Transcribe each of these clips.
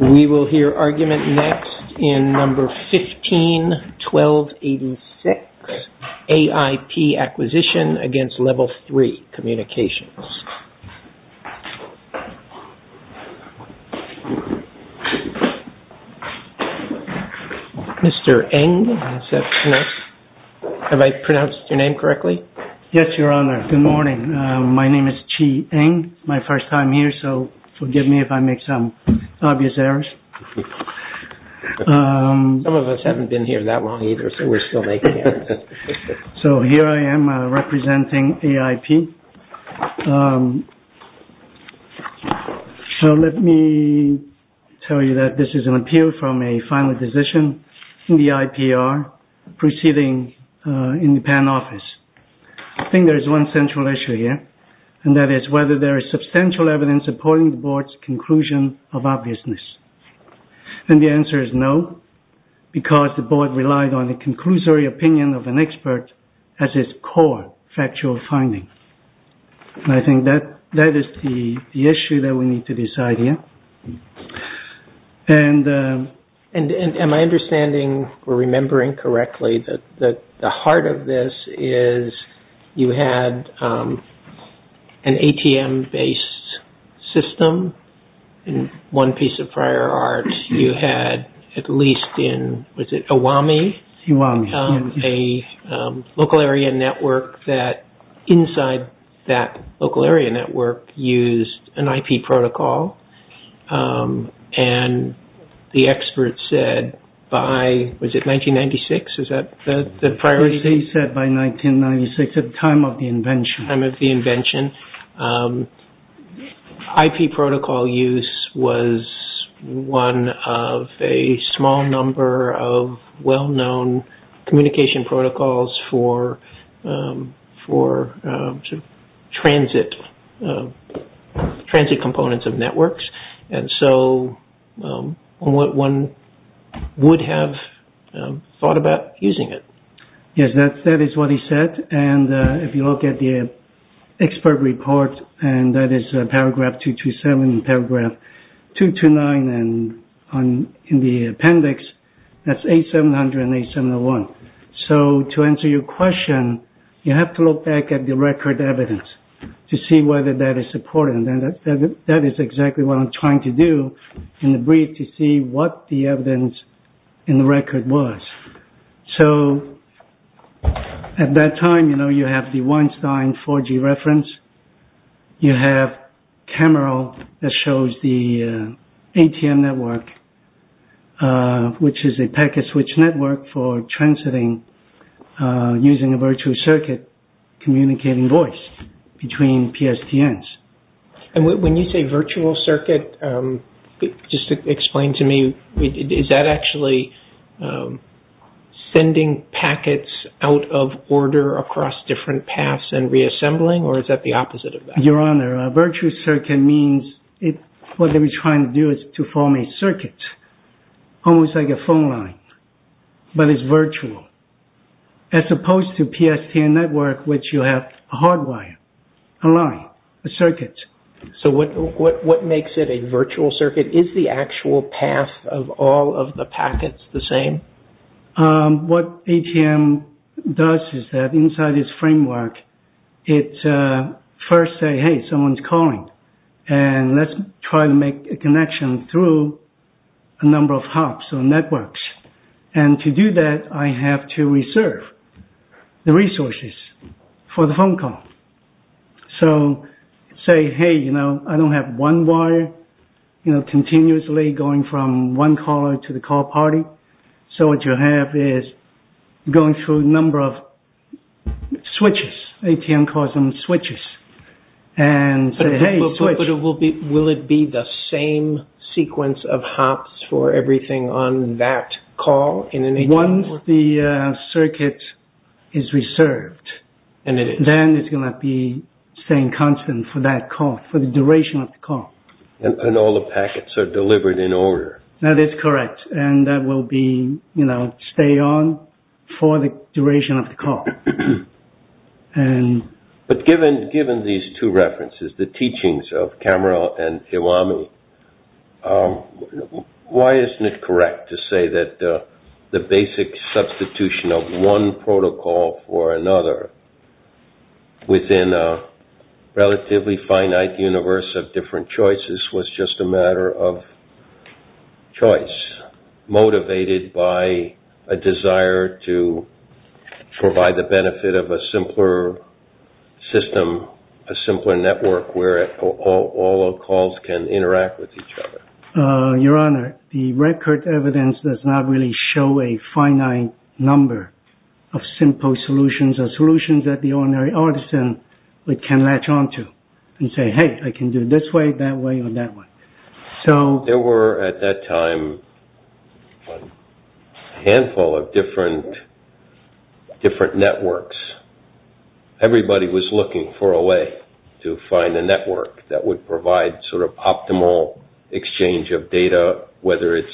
We will hear argument next in No. 15-1286, AIP Acquisition against Level 3 Communications. Mr. Eng, have I pronounced your name correctly? Yes, Your Honor. Good morning. My name is Chi Eng. It's my first time here, so forgive me if I make some obvious errors. Some of us haven't been here that long either, so we're still making errors. Here I am representing AIP. Let me tell you that this is an appeal from a final decision in the IPR proceeding in the PAN office. I think there is one central issue here, and that is whether there is substantial evidence supporting the Board's conclusion of obviousness. The answer is no, because the Board relied on the conclusory opinion of an expert as its core factual finding. I think that is the issue that we need to decide here. Am I understanding or remembering correctly that the heart of this is you had an ATM-based system in one piece of prior art? At least in, was it Awami? Awami, yes. A local area network that inside that local area network used an IP protocol, and the expert said by, was it 1996? Is that the priority? He said by 1996 at the time of the invention. IP protocol use was one of a small number of well-known communication protocols for transit components of networks, and so one would have thought about using it. Yes, that is what he said, and if you look at the expert report, and that is paragraph 227 and paragraph 229 in the appendix, that is A700 and A701. So to answer your question, you have to look back at the record evidence to see whether that is supported, and that is exactly what I am trying to do in the brief to see what the evidence in the record was. So at that time, you know, you have the Weinstein 4G reference. You have Camero that shows the ATM network, which is a packet switch network for transiting using a virtual circuit communicating voice between PSTNs. And when you say virtual circuit, just explain to me, is that actually sending packets out of order across different paths and reassembling, or is that the opposite of that? Your Honor, a virtual circuit means what they were trying to do is to form a circuit, almost like a phone line, but it is virtual, as opposed to PSTN network, which you have a hard wire, a line, a circuit. So what makes it a virtual circuit? Is the actual path of all of the packets the same? What ATM does is that inside its framework, it first says, hey, someone's calling, and let's try to make a connection through a number of hubs or networks. And to do that, I have to reserve the resources for the phone call. So, say, hey, you know, I don't have one wire, you know, continuously going from one caller to the call party, so what you have is going through a number of switches, ATM calls them switches, and say, hey, switch. But will it be the same sequence of hubs for everything on that call in an ATM network? Once the circuit is reserved, then it's going to be staying constant for that call, for the duration of the call. And all the packets are delivered in order. That is correct, and that will be, you know, stay on for the duration of the call. But given these two references, the teachings of Kammerer and Iwami, why isn't it correct to say that the basic substitution of one protocol for another within a relatively finite universe of different choices was just a matter of choice, motivated by a desire to provide the benefit of a simpler system, a simpler network where all calls can interact with each other? Your Honor, the record evidence does not really show a finite number of simple solutions, or solutions that the ordinary artisan can latch onto and say, hey, I can do it this way, that way, or that way. There were, at that time, a handful of different networks. Everybody was looking for a way to find a network that would provide sort of optimal exchange of data, whether it's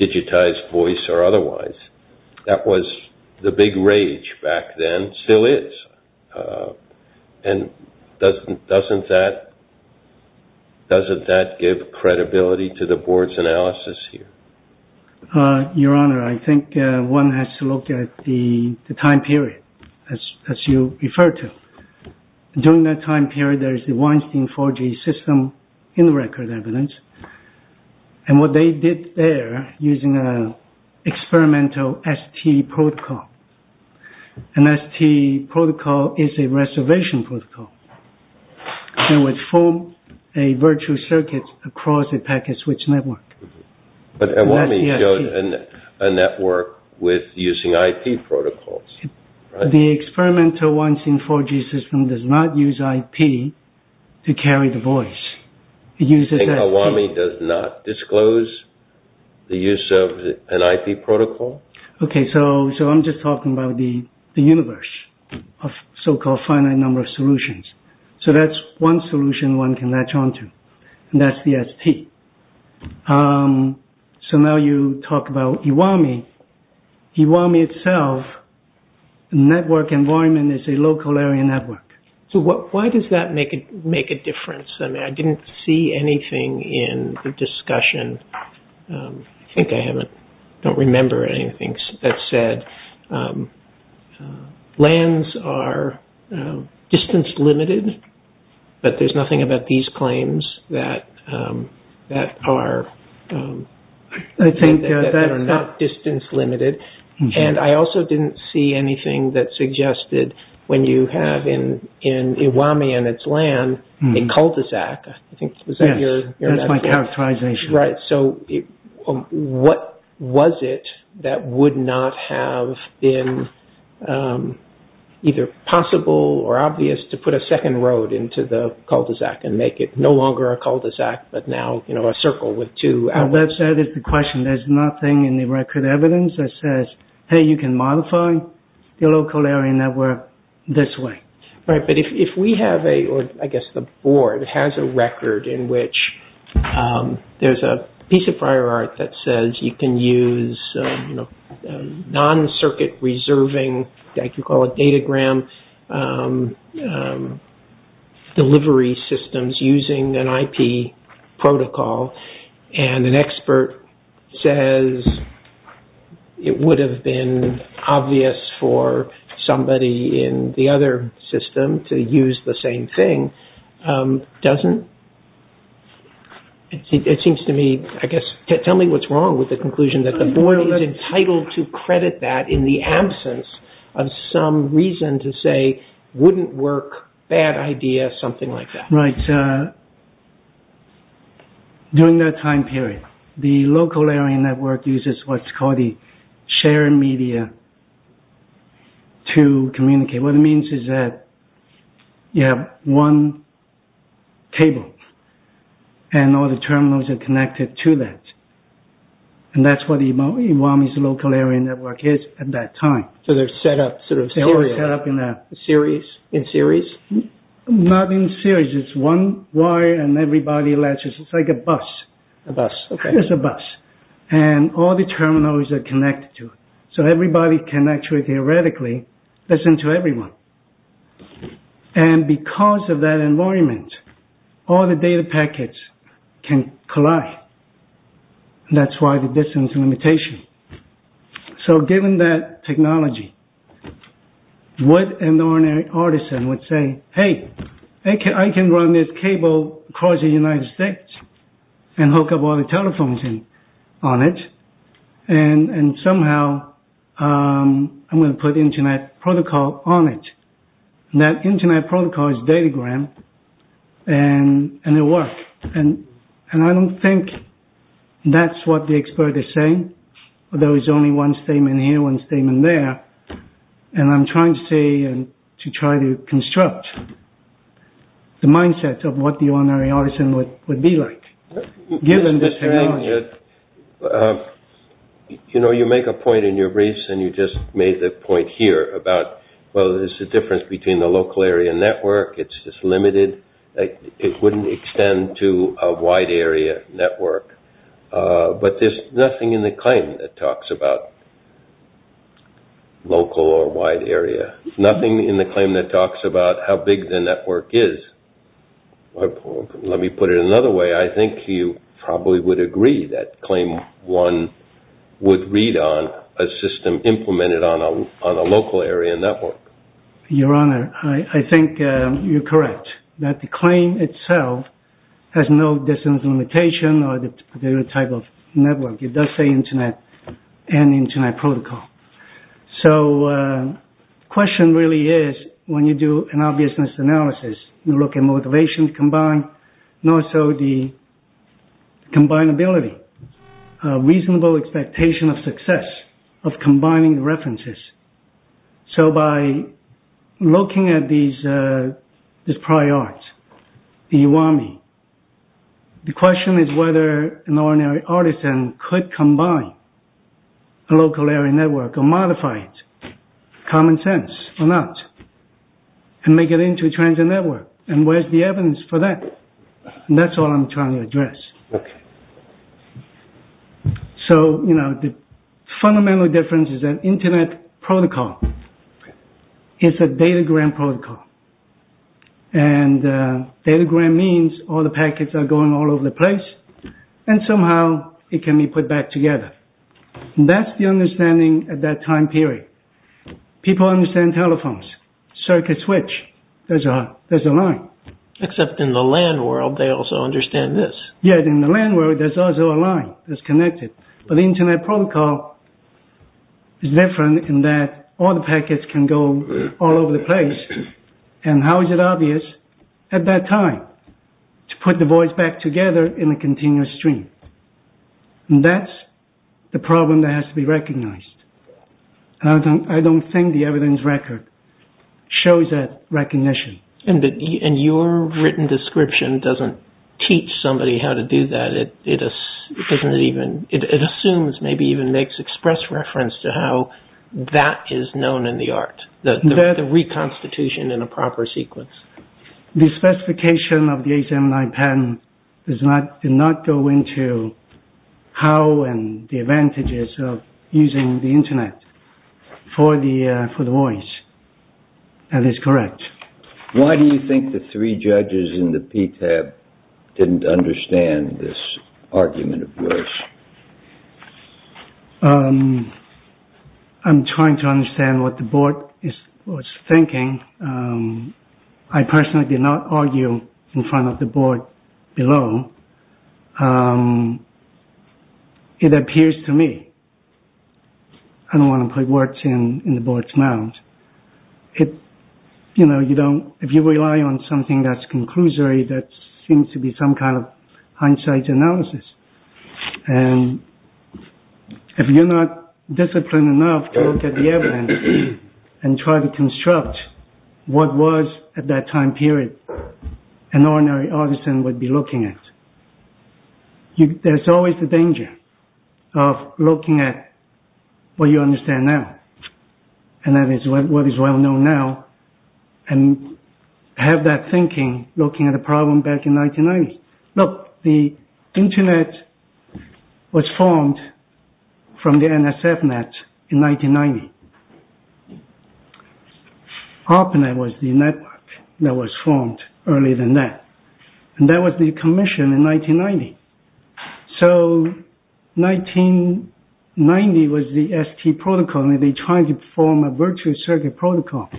digitized voice or otherwise. That was the big rage back then, still is. And doesn't that give credibility to the Board's analysis here? Your Honor, I think one has to look at the time period, as you referred to. During that time period, there is the Weinstein 4G system in the record evidence, and what they did there, using an experimental ST protocol. An ST protocol is a reservation protocol. It would form a virtual circuit across a packet switch network. But Awami showed a network with using IP protocols. The experimental Weinstein 4G system does not use IP to carry the voice. I think Awami does not disclose the use of an IP protocol. Okay, so I'm just talking about the universe of so-called finite number of solutions. So that's one solution one can latch on to, and that's the ST. So now you talk about Awami. Awami itself, the network environment is a local area network. So why does that make a difference? I mean, I didn't see anything in the discussion. I think I don't remember anything that said lands are distance limited, but there's nothing about these claims that are not distance limited. And I also didn't see anything that suggested when you have in Awami and its land a cul-de-sac. That's my characterization. So what was it that would not have been either possible or obvious to put a second road into the cul-de-sac and make it no longer a cul-de-sac, but now a circle with two outlets? That's the question. There's nothing in the record evidence that says, hey, you can modify your local area network this way. Right, but if we have a, or I guess the board has a record in which there's a piece of prior art that says you can use non-circuit reserving, I can call it datagram, delivery systems using an IP protocol, and an expert says it would have been obvious for somebody in the other system to use the same thing, doesn't? It seems to me, I guess, tell me what's wrong with the conclusion that the board is entitled to credit that in the absence of some reason to say wouldn't work, bad idea, something like that. Right. During that time period, the local area network uses what's called the shared media to communicate. What it means is that you have one table, and all the terminals are connected to that. And that's what Iwami's local area network is at that time. So they're set up sort of in a series? Not in series, it's one wire and everybody latches, it's like a bus. A bus, okay. It's a bus. And all the terminals are connected to it. So everybody can actually theoretically listen to everyone. And because of that environment, all the data packets can collide. That's why the distance limitation. So given that technology, what an ordinary artisan would say, hey, I can run this cable across the United States and hook up all the telephones on it, and somehow I'm going to put internet protocol on it. That internet protocol is datagram, and it works. And I don't think that's what the expert is saying. There was only one statement here, one statement there. And I'm trying to say and to try to construct the mindset of what the ordinary artisan would be like, given this technology. You know, you make a point in your briefs, and you just made the point here about, well, there's a difference between the local area network. It's just limited. It wouldn't extend to a wide area network. But there's nothing in the claim that talks about local or wide area. Nothing in the claim that talks about how big the network is. Let me put it another way. I think you probably would agree that claim one would read on a system implemented on a local area network. Your Honor, I think you're correct. That the claim itself has no distance limitation or the particular type of network. It does say internet and internet protocol. So the question really is, when you do an obviousness analysis, you look at motivation combined, and also the combinability. A reasonable expectation of success of combining references. So by looking at this prior art, the Iwami, the question is whether an ordinary artisan could combine a local area network, or modify it, common sense or not, and make it into a transit network. And where's the evidence for that? Okay. So, you know, the fundamental difference is that internet protocol is a datagram protocol. And datagram means all the packets are going all over the place, and somehow it can be put back together. That's the understanding at that time period. People understand telephones, circuit switch, there's a line. Except in the land world, they also understand this. Yet in the land world, there's also a line that's connected. But the internet protocol is different in that all the packets can go all over the place. And how is it obvious at that time to put the voice back together in a continuous stream? And that's the problem that has to be recognized. I don't think the evidence record shows that recognition. And your written description doesn't teach somebody how to do that. It assumes, maybe even makes express reference to how that is known in the art. The reconstitution in a proper sequence. The specification of the HMI patent did not go into how and the advantages of using the internet for the voice. That is correct. Why do you think the three judges in the PTAB didn't understand this argument of yours? I'm trying to understand what the board is thinking. I personally did not argue in front of the board below. It appears to me. I don't want to put words in the board's mouth. You know, if you rely on something that's conclusory, that seems to be some kind of hindsight analysis. And if you're not disciplined enough to look at the evidence and try to construct what was at that time period, an ordinary artisan would be looking at. There's always the danger of looking at what you understand now. And that is what is well known now. And have that thinking, looking at the problem back in 1990. Look, the internet was formed from the NSF net in 1990. ARPANET was the network that was formed earlier than that. And that was the commission in 1990. So 1990 was the ST protocol. And they're trying to form a virtual circuit protocol,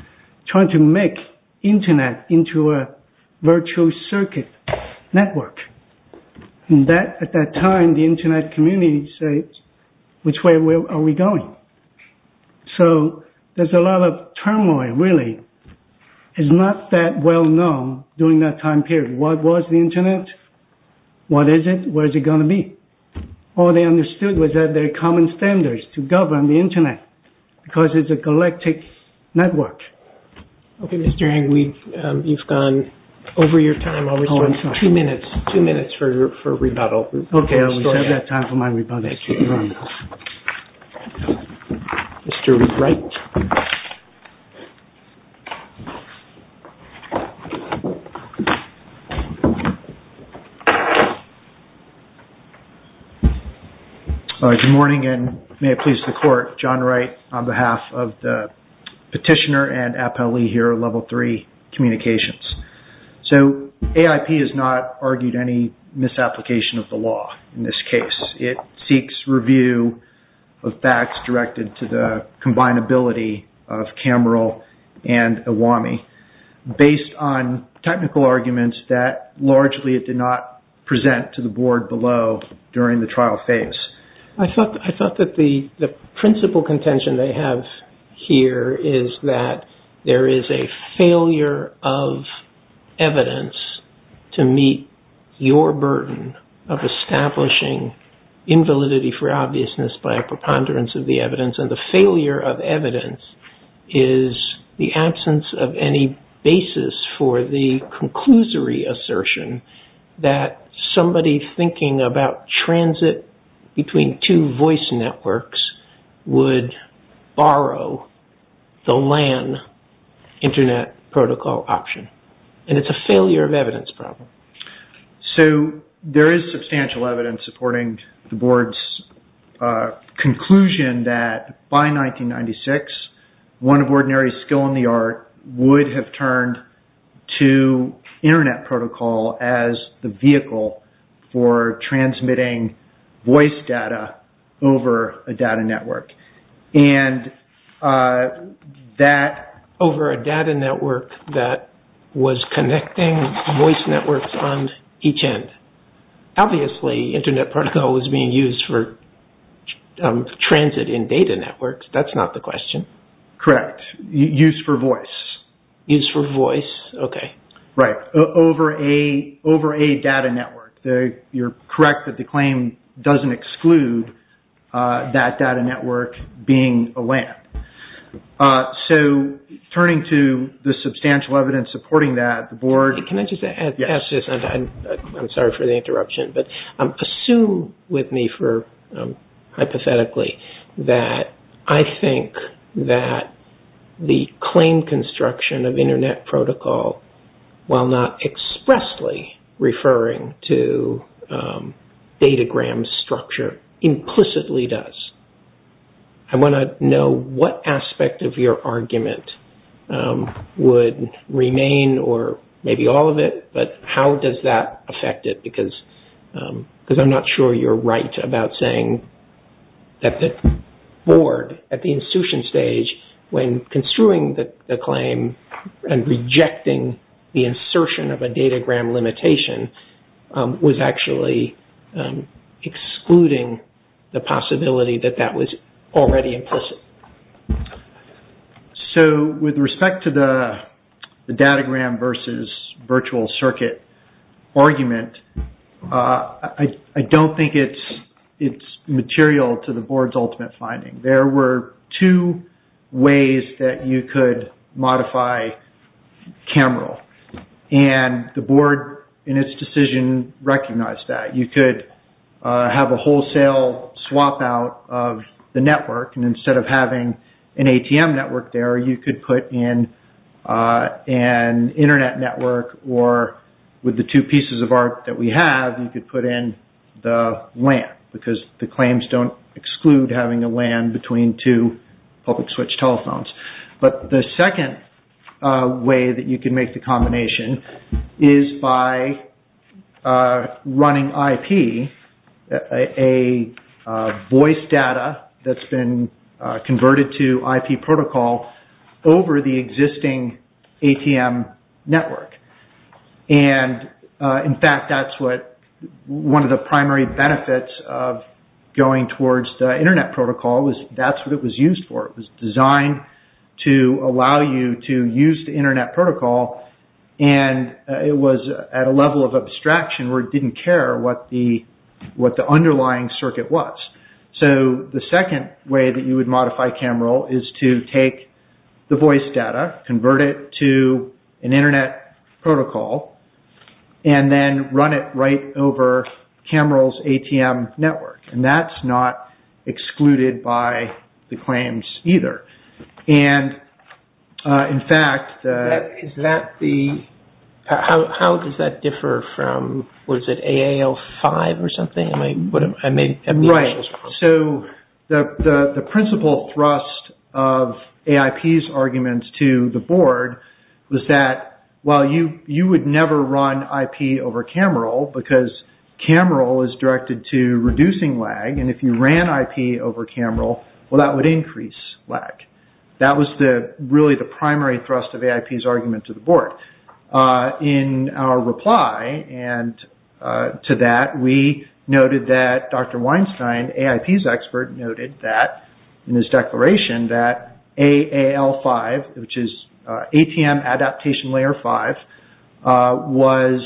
trying to make internet into a virtual circuit network. At that time, the internet community said, which way are we going? So there's a lot of turmoil, really. It's not that well known during that time period. What was the internet? What is it? Where is it going to be? All they understood was that there are common standards to govern the internet. Because it's a galactic network. Okay, Mr. Eng. You've gone over your time. Two minutes. Two minutes for rebuttal. Okay. I'll reserve that time for my rebuttal. Mr. Wright. Good morning, and may it please the court. John Wright on behalf of the petitioner and appellee here at Level 3 Communications. So AIP has not argued any misapplication of the law in this case. It seeks review of facts directed to the combinability of CAMERL and AWAMI. Based on technical arguments that largely it did not present to the board below during the trial phase. I thought that the principle contention they have here is that there is a failure of evidence to meet your burden of establishing invalidity for obviousness by a preponderance of the evidence. And the failure of evidence is the absence of any basis for the conclusory assertion that somebody thinking about transit between two voice networks would borrow the LAN internet protocol option. And it's a failure of evidence problem. So there is substantial evidence supporting the board's conclusion that by 1996, one of ordinary skill in the art would have turned to internet protocol as the vehicle for transmitting voice data over a data network. And that over a data network that was connecting voice networks on each end. Obviously internet protocol was being used for transit in data networks. That's not the question. Correct. Use for voice. Use for voice. Okay. Right. Over a data network. You're correct that the claim doesn't exclude that data network being a LAN. So turning to the substantial evidence supporting that, the board. Can I just add to this? I'm sorry for the interruption. But assume with me for hypothetically that I think that the claim construction of internet protocol, while not expressly referring to datagram structure, implicitly does. I want to know what aspect of your argument would remain or maybe all of it, but how does that affect it? Because I'm not sure you're right about saying that the board at the institution stage, when construing the claim and rejecting the insertion of a datagram limitation, was actually excluding the possibility that that was already implicit. So with respect to the datagram versus virtual circuit argument, I don't think it's material to the board's ultimate finding. There were two ways that you could modify CAMREL. And the board in its decision recognized that. You could have a wholesale swap out of the network. And instead of having an ATM network there, you could put in an internet network. Or with the two pieces of art that we have, you could put in the LAN because the claims don't exclude having a LAN between two public switch telephones. But the second way that you can make the combination is by running IP, a voice data that's been converted to IP protocol over the existing ATM network. And in fact, that's what one of the primary benefits of going towards the internet protocol is that's what it was used for. It was designed to allow you to use the internet protocol. And it was at a level of abstraction where it didn't care what the underlying circuit was. So the second way that you would modify CAMREL is to take the voice data, convert it to an internet protocol, and then run it right over CAMREL's ATM network. And that's not excluded by the claims either. And in fact, is that the... How does that differ from, was it AAL5 or something? Right. So the principal thrust of AIP's arguments to the board was that, well, you would never run IP over CAMREL because CAMREL is directed to reducing lag. And if you ran IP over CAMREL, well, that would increase lag. That was really the primary thrust of AIP's argument to the board. In our reply to that, we noted that Dr. Weinstein, AIP's expert, noted that in his declaration that AAL5, which is ATM Adaptation Layer 5, was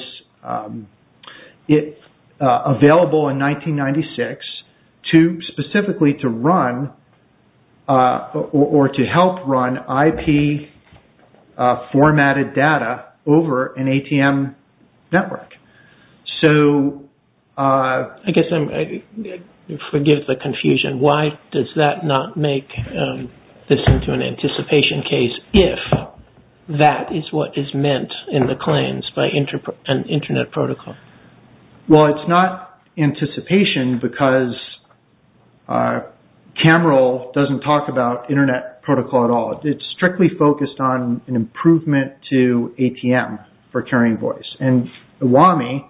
available in 1996 specifically to run, or to help run, IP formatted data over an ATM network. So... Forgive the confusion. Why does that not make this into an anticipation case if that is what is meant in the claims by an internet protocol? Well, it's not anticipation because CAMREL doesn't talk about internet protocol at all. It's strictly focused on an improvement to ATM for carrying voice. And UAMI,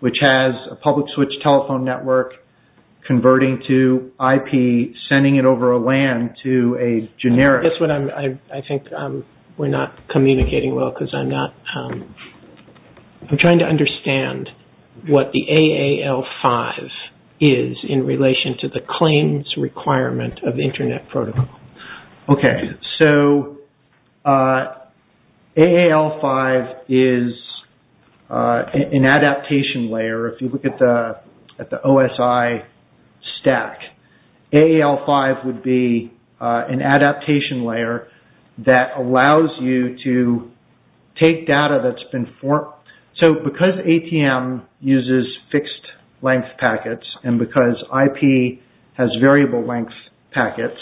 which has a public switch telephone network converting to IP, sending it over a LAN to a generic... That's what I'm... I think we're not communicating well because I'm not... I'm trying to understand what the AAL5 is in relation to the claims requirement of internet protocol. Okay, so AAL5 is an adaptation layer. If you look at the OSI stack, AAL5 would be an adaptation layer that allows you to take data that's been formed... So, because ATM uses fixed-length packets and because IP has variable-length packets,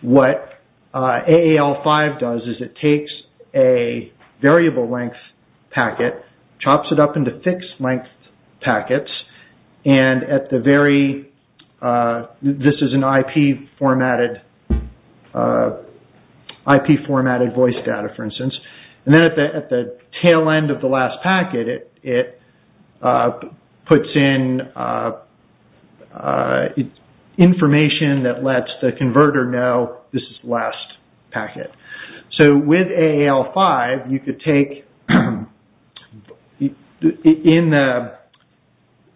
what AAL5 does is it takes a variable-length packet, chops it up into fixed-length packets, and at the very... This is an IP formatted voice data, for instance. And then at the tail end of the last packet, it puts in information that lets the converter know this is the last packet. So, with AAL5, you could take...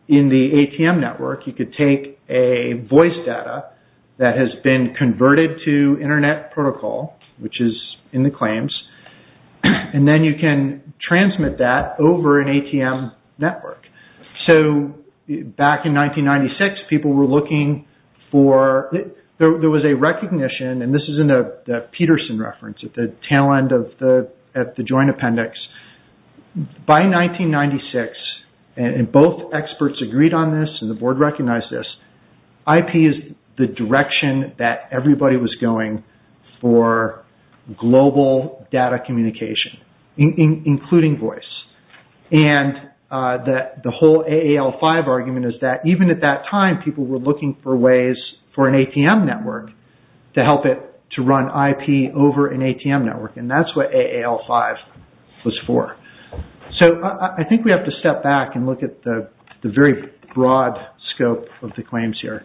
In the ATM network, you could take a voice data that has been converted to internet protocol, which is in the claims, and then you can transmit that over an ATM network. So, back in 1996, people were looking for... There was a recognition, and this is in the Peterson reference at the tail end of the joint appendix. By 1996, and both experts agreed on this, and the board recognized this, IP is the direction that everybody was going for global data communication, including voice. And the whole AAL5 argument is that even at that time, people were looking for ways for an ATM network to help it to run IP over an ATM network, and that's what AAL5 was for. So, I think we have to step back and look at the very broad scope of the claims here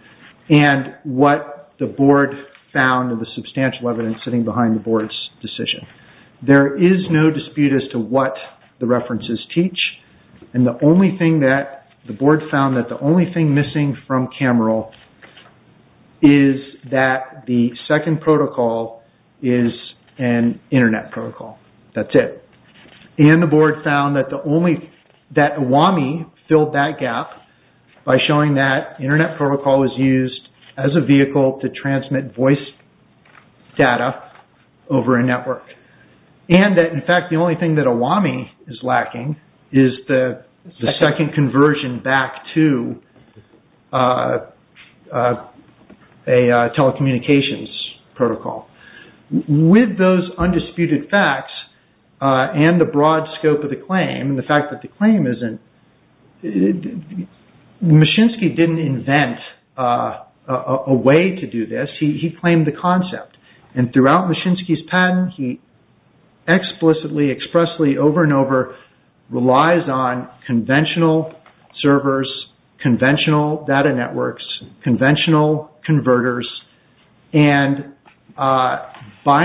and what the board found and the substantial evidence sitting behind the board's decision. There is no dispute as to what the references teach, and the only thing that the board found that the only thing missing from Camerill is that the second protocol is an internet protocol. That's it. And the board found that AWAMI filled that gap by showing that internet protocol is used as a vehicle to transmit voice data over a network. And that, in fact, the only thing that AWAMI is lacking is the second conversion back to a telecommunications protocol. With those undisputed facts and the broad scope of the claim, and the fact that the claim isn't… he claimed the concept. And throughout Machinsky's patent, he explicitly, expressly, over and over, relies on conventional servers, conventional data networks, conventional converters. And by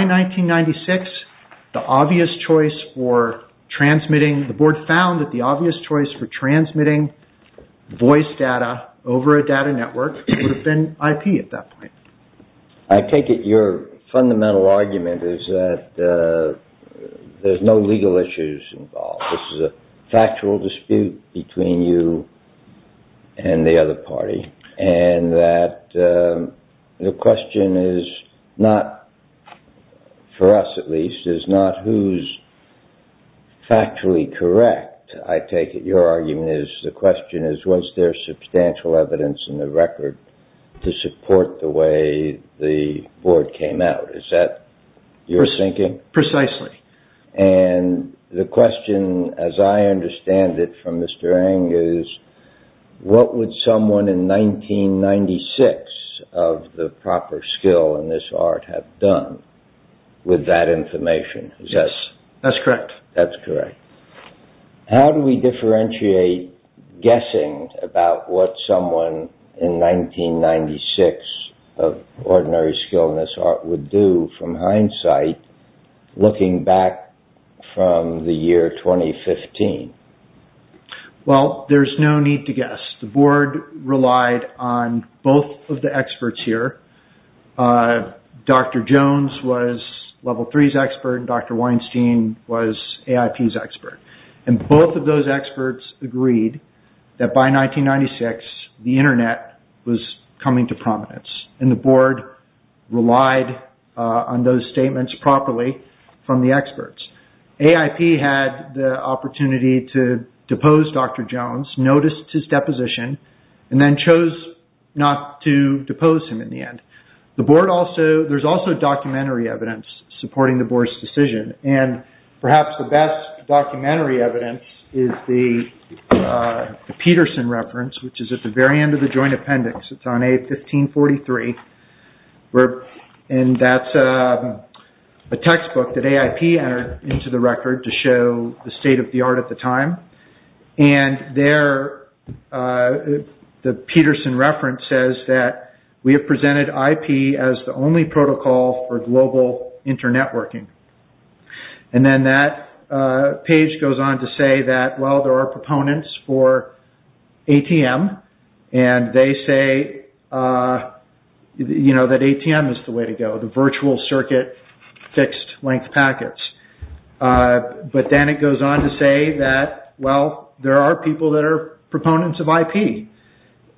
1996, the board found that the obvious choice for transmitting voice data over a data network would have been IP at that point. I take it your fundamental argument is that there's no legal issues involved. This is a factual dispute between you and the other party, and that the question is not, for us at least, is not who's factually correct. I take it your argument is, the question is, was there substantial evidence in the record to support the way the board came out. Is that your thinking? Precisely. And the question, as I understand it from Mr. Angus, what would someone in 1996 of the proper skill in this art have done with that information? Yes, that's correct. How do we differentiate guessing about what someone in 1996 of ordinary skill in this art would do from hindsight, looking back from the year 2015? Well, there's no need to guess. The board relied on both of the experts here. Dr. Jones was Level 3's expert, and Dr. Weinstein was AIP's expert. And both of those experts agreed that by 1996, the Internet was coming to prominence. And the board relied on those statements properly from the experts. AIP had the opportunity to depose Dr. Jones, noticed his deposition, and then chose not to depose him in the end. There's also documentary evidence supporting the board's decision. And perhaps the best documentary evidence is the Peterson reference, which is at the very end of the joint appendix. It's on A1543, and that's a textbook that AIP entered into the record to show the state of the art at the time. And there, the Peterson reference says that we have presented IP as the only protocol for global internetworking. And then that page goes on to say that, well, there are proponents for ATM. And they say that ATM is the way to go, the virtual circuit fixed-length packets. But then it goes on to say that, well, there are people that are proponents of IP.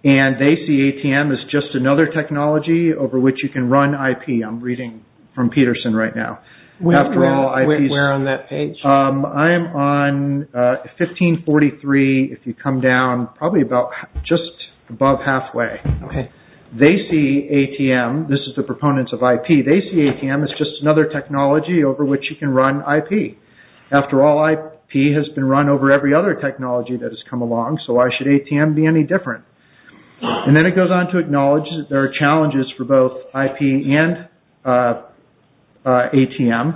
And they see ATM as just another technology over which you can run IP. I'm reading from Peterson right now. Where on that page? I am on 1543, if you come down probably just above halfway. They see ATM, this is the proponents of IP, they see ATM as just another technology over which you can run IP. After all, IP has been run over every other technology that has come along, so why should ATM be any different? And then it goes on to acknowledge that there are challenges for both IP and ATM.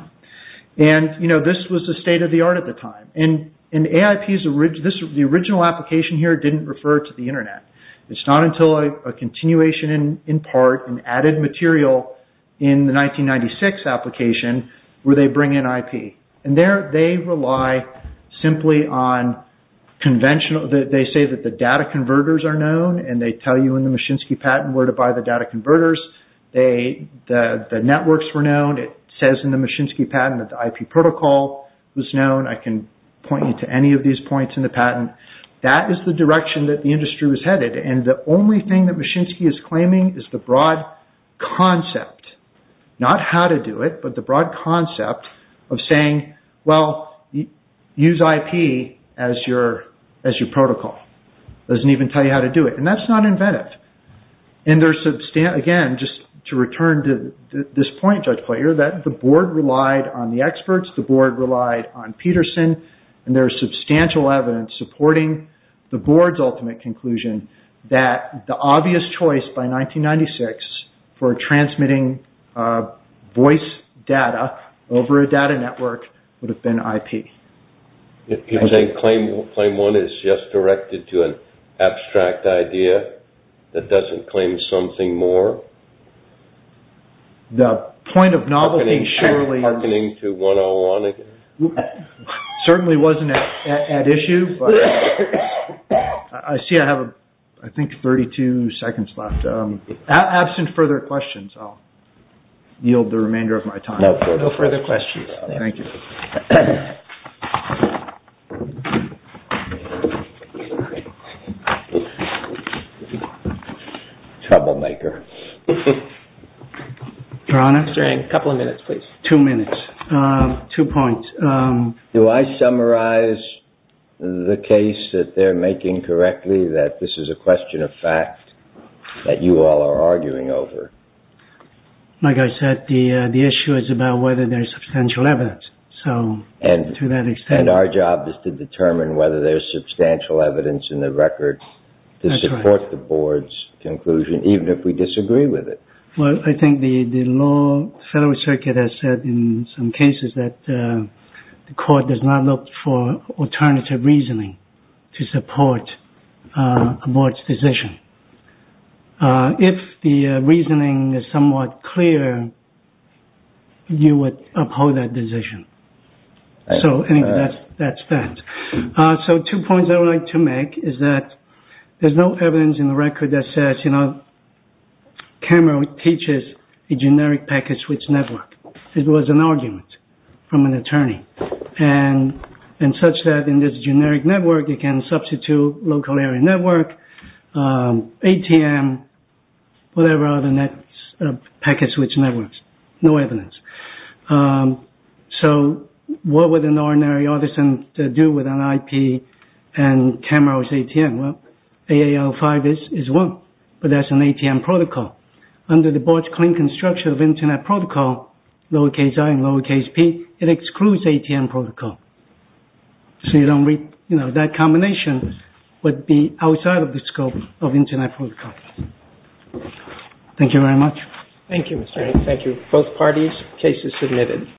And, you know, this was the state of the art at the time. And AIP, the original application here didn't refer to the internet. It's not until a continuation in part, an added material in the 1996 application, where they bring in IP. And there they rely simply on conventional, they say that the data converters are known. And they tell you in the Machinsky patent where to buy the data converters. The networks were known. It says in the Machinsky patent that the IP protocol was known. I can point you to any of these points in the patent. That is the direction that the industry was headed. And the only thing that Machinsky is claiming is the broad concept, not how to do it, but the broad concept of saying, well, use IP as your protocol. It doesn't even tell you how to do it. And that's not inventive. And there's, again, just to return to this point, Judge Coyier, that the board relied on the experts. The board relied on Peterson. And there's substantial evidence supporting the board's ultimate conclusion that the obvious choice by 1996 for transmitting voice data over a data network would have been IP. You're saying claim one is just directed to an abstract idea that doesn't claim something more? The point of novelty, surely, certainly wasn't at issue. I see I have, I think, 32 seconds left. Absent further questions, I'll yield the remainder of my time. No further questions. Thank you. Troublemaker. Your Honor? Sir, a couple of minutes, please. Two minutes. Two points. Do I summarize the case that they're making correctly, that this is a question of fact that you all are arguing over? Like I said, the issue is about whether there's substantial evidence. And our job is to determine whether there's substantial evidence in the record to support the board's conclusion, even if we disagree with it. Well, I think the Federal Circuit has said in some cases that the court does not look for alternative reasoning to support a board's decision. If the reasoning is somewhat clear, you would uphold that decision. So that's that. So two points I would like to make is that there's no evidence in the record that says, you know, Cameron teaches a generic packet switch network. And such that in this generic network, you can substitute local area network, ATM, whatever other packet switch networks. No evidence. So what would an ordinary artisan do with an IP and Cameron's ATM? Well, AAL5 is one, but that's an ATM protocol. Under the board's clean construction of internet protocol, lowercase i and lowercase p, it excludes ATM protocol. So you don't read, you know, that combination would be outside of the scope of internet protocol. Thank you very much. Thank you, Mr. Hancock. Thank you. Both parties, case is submitted.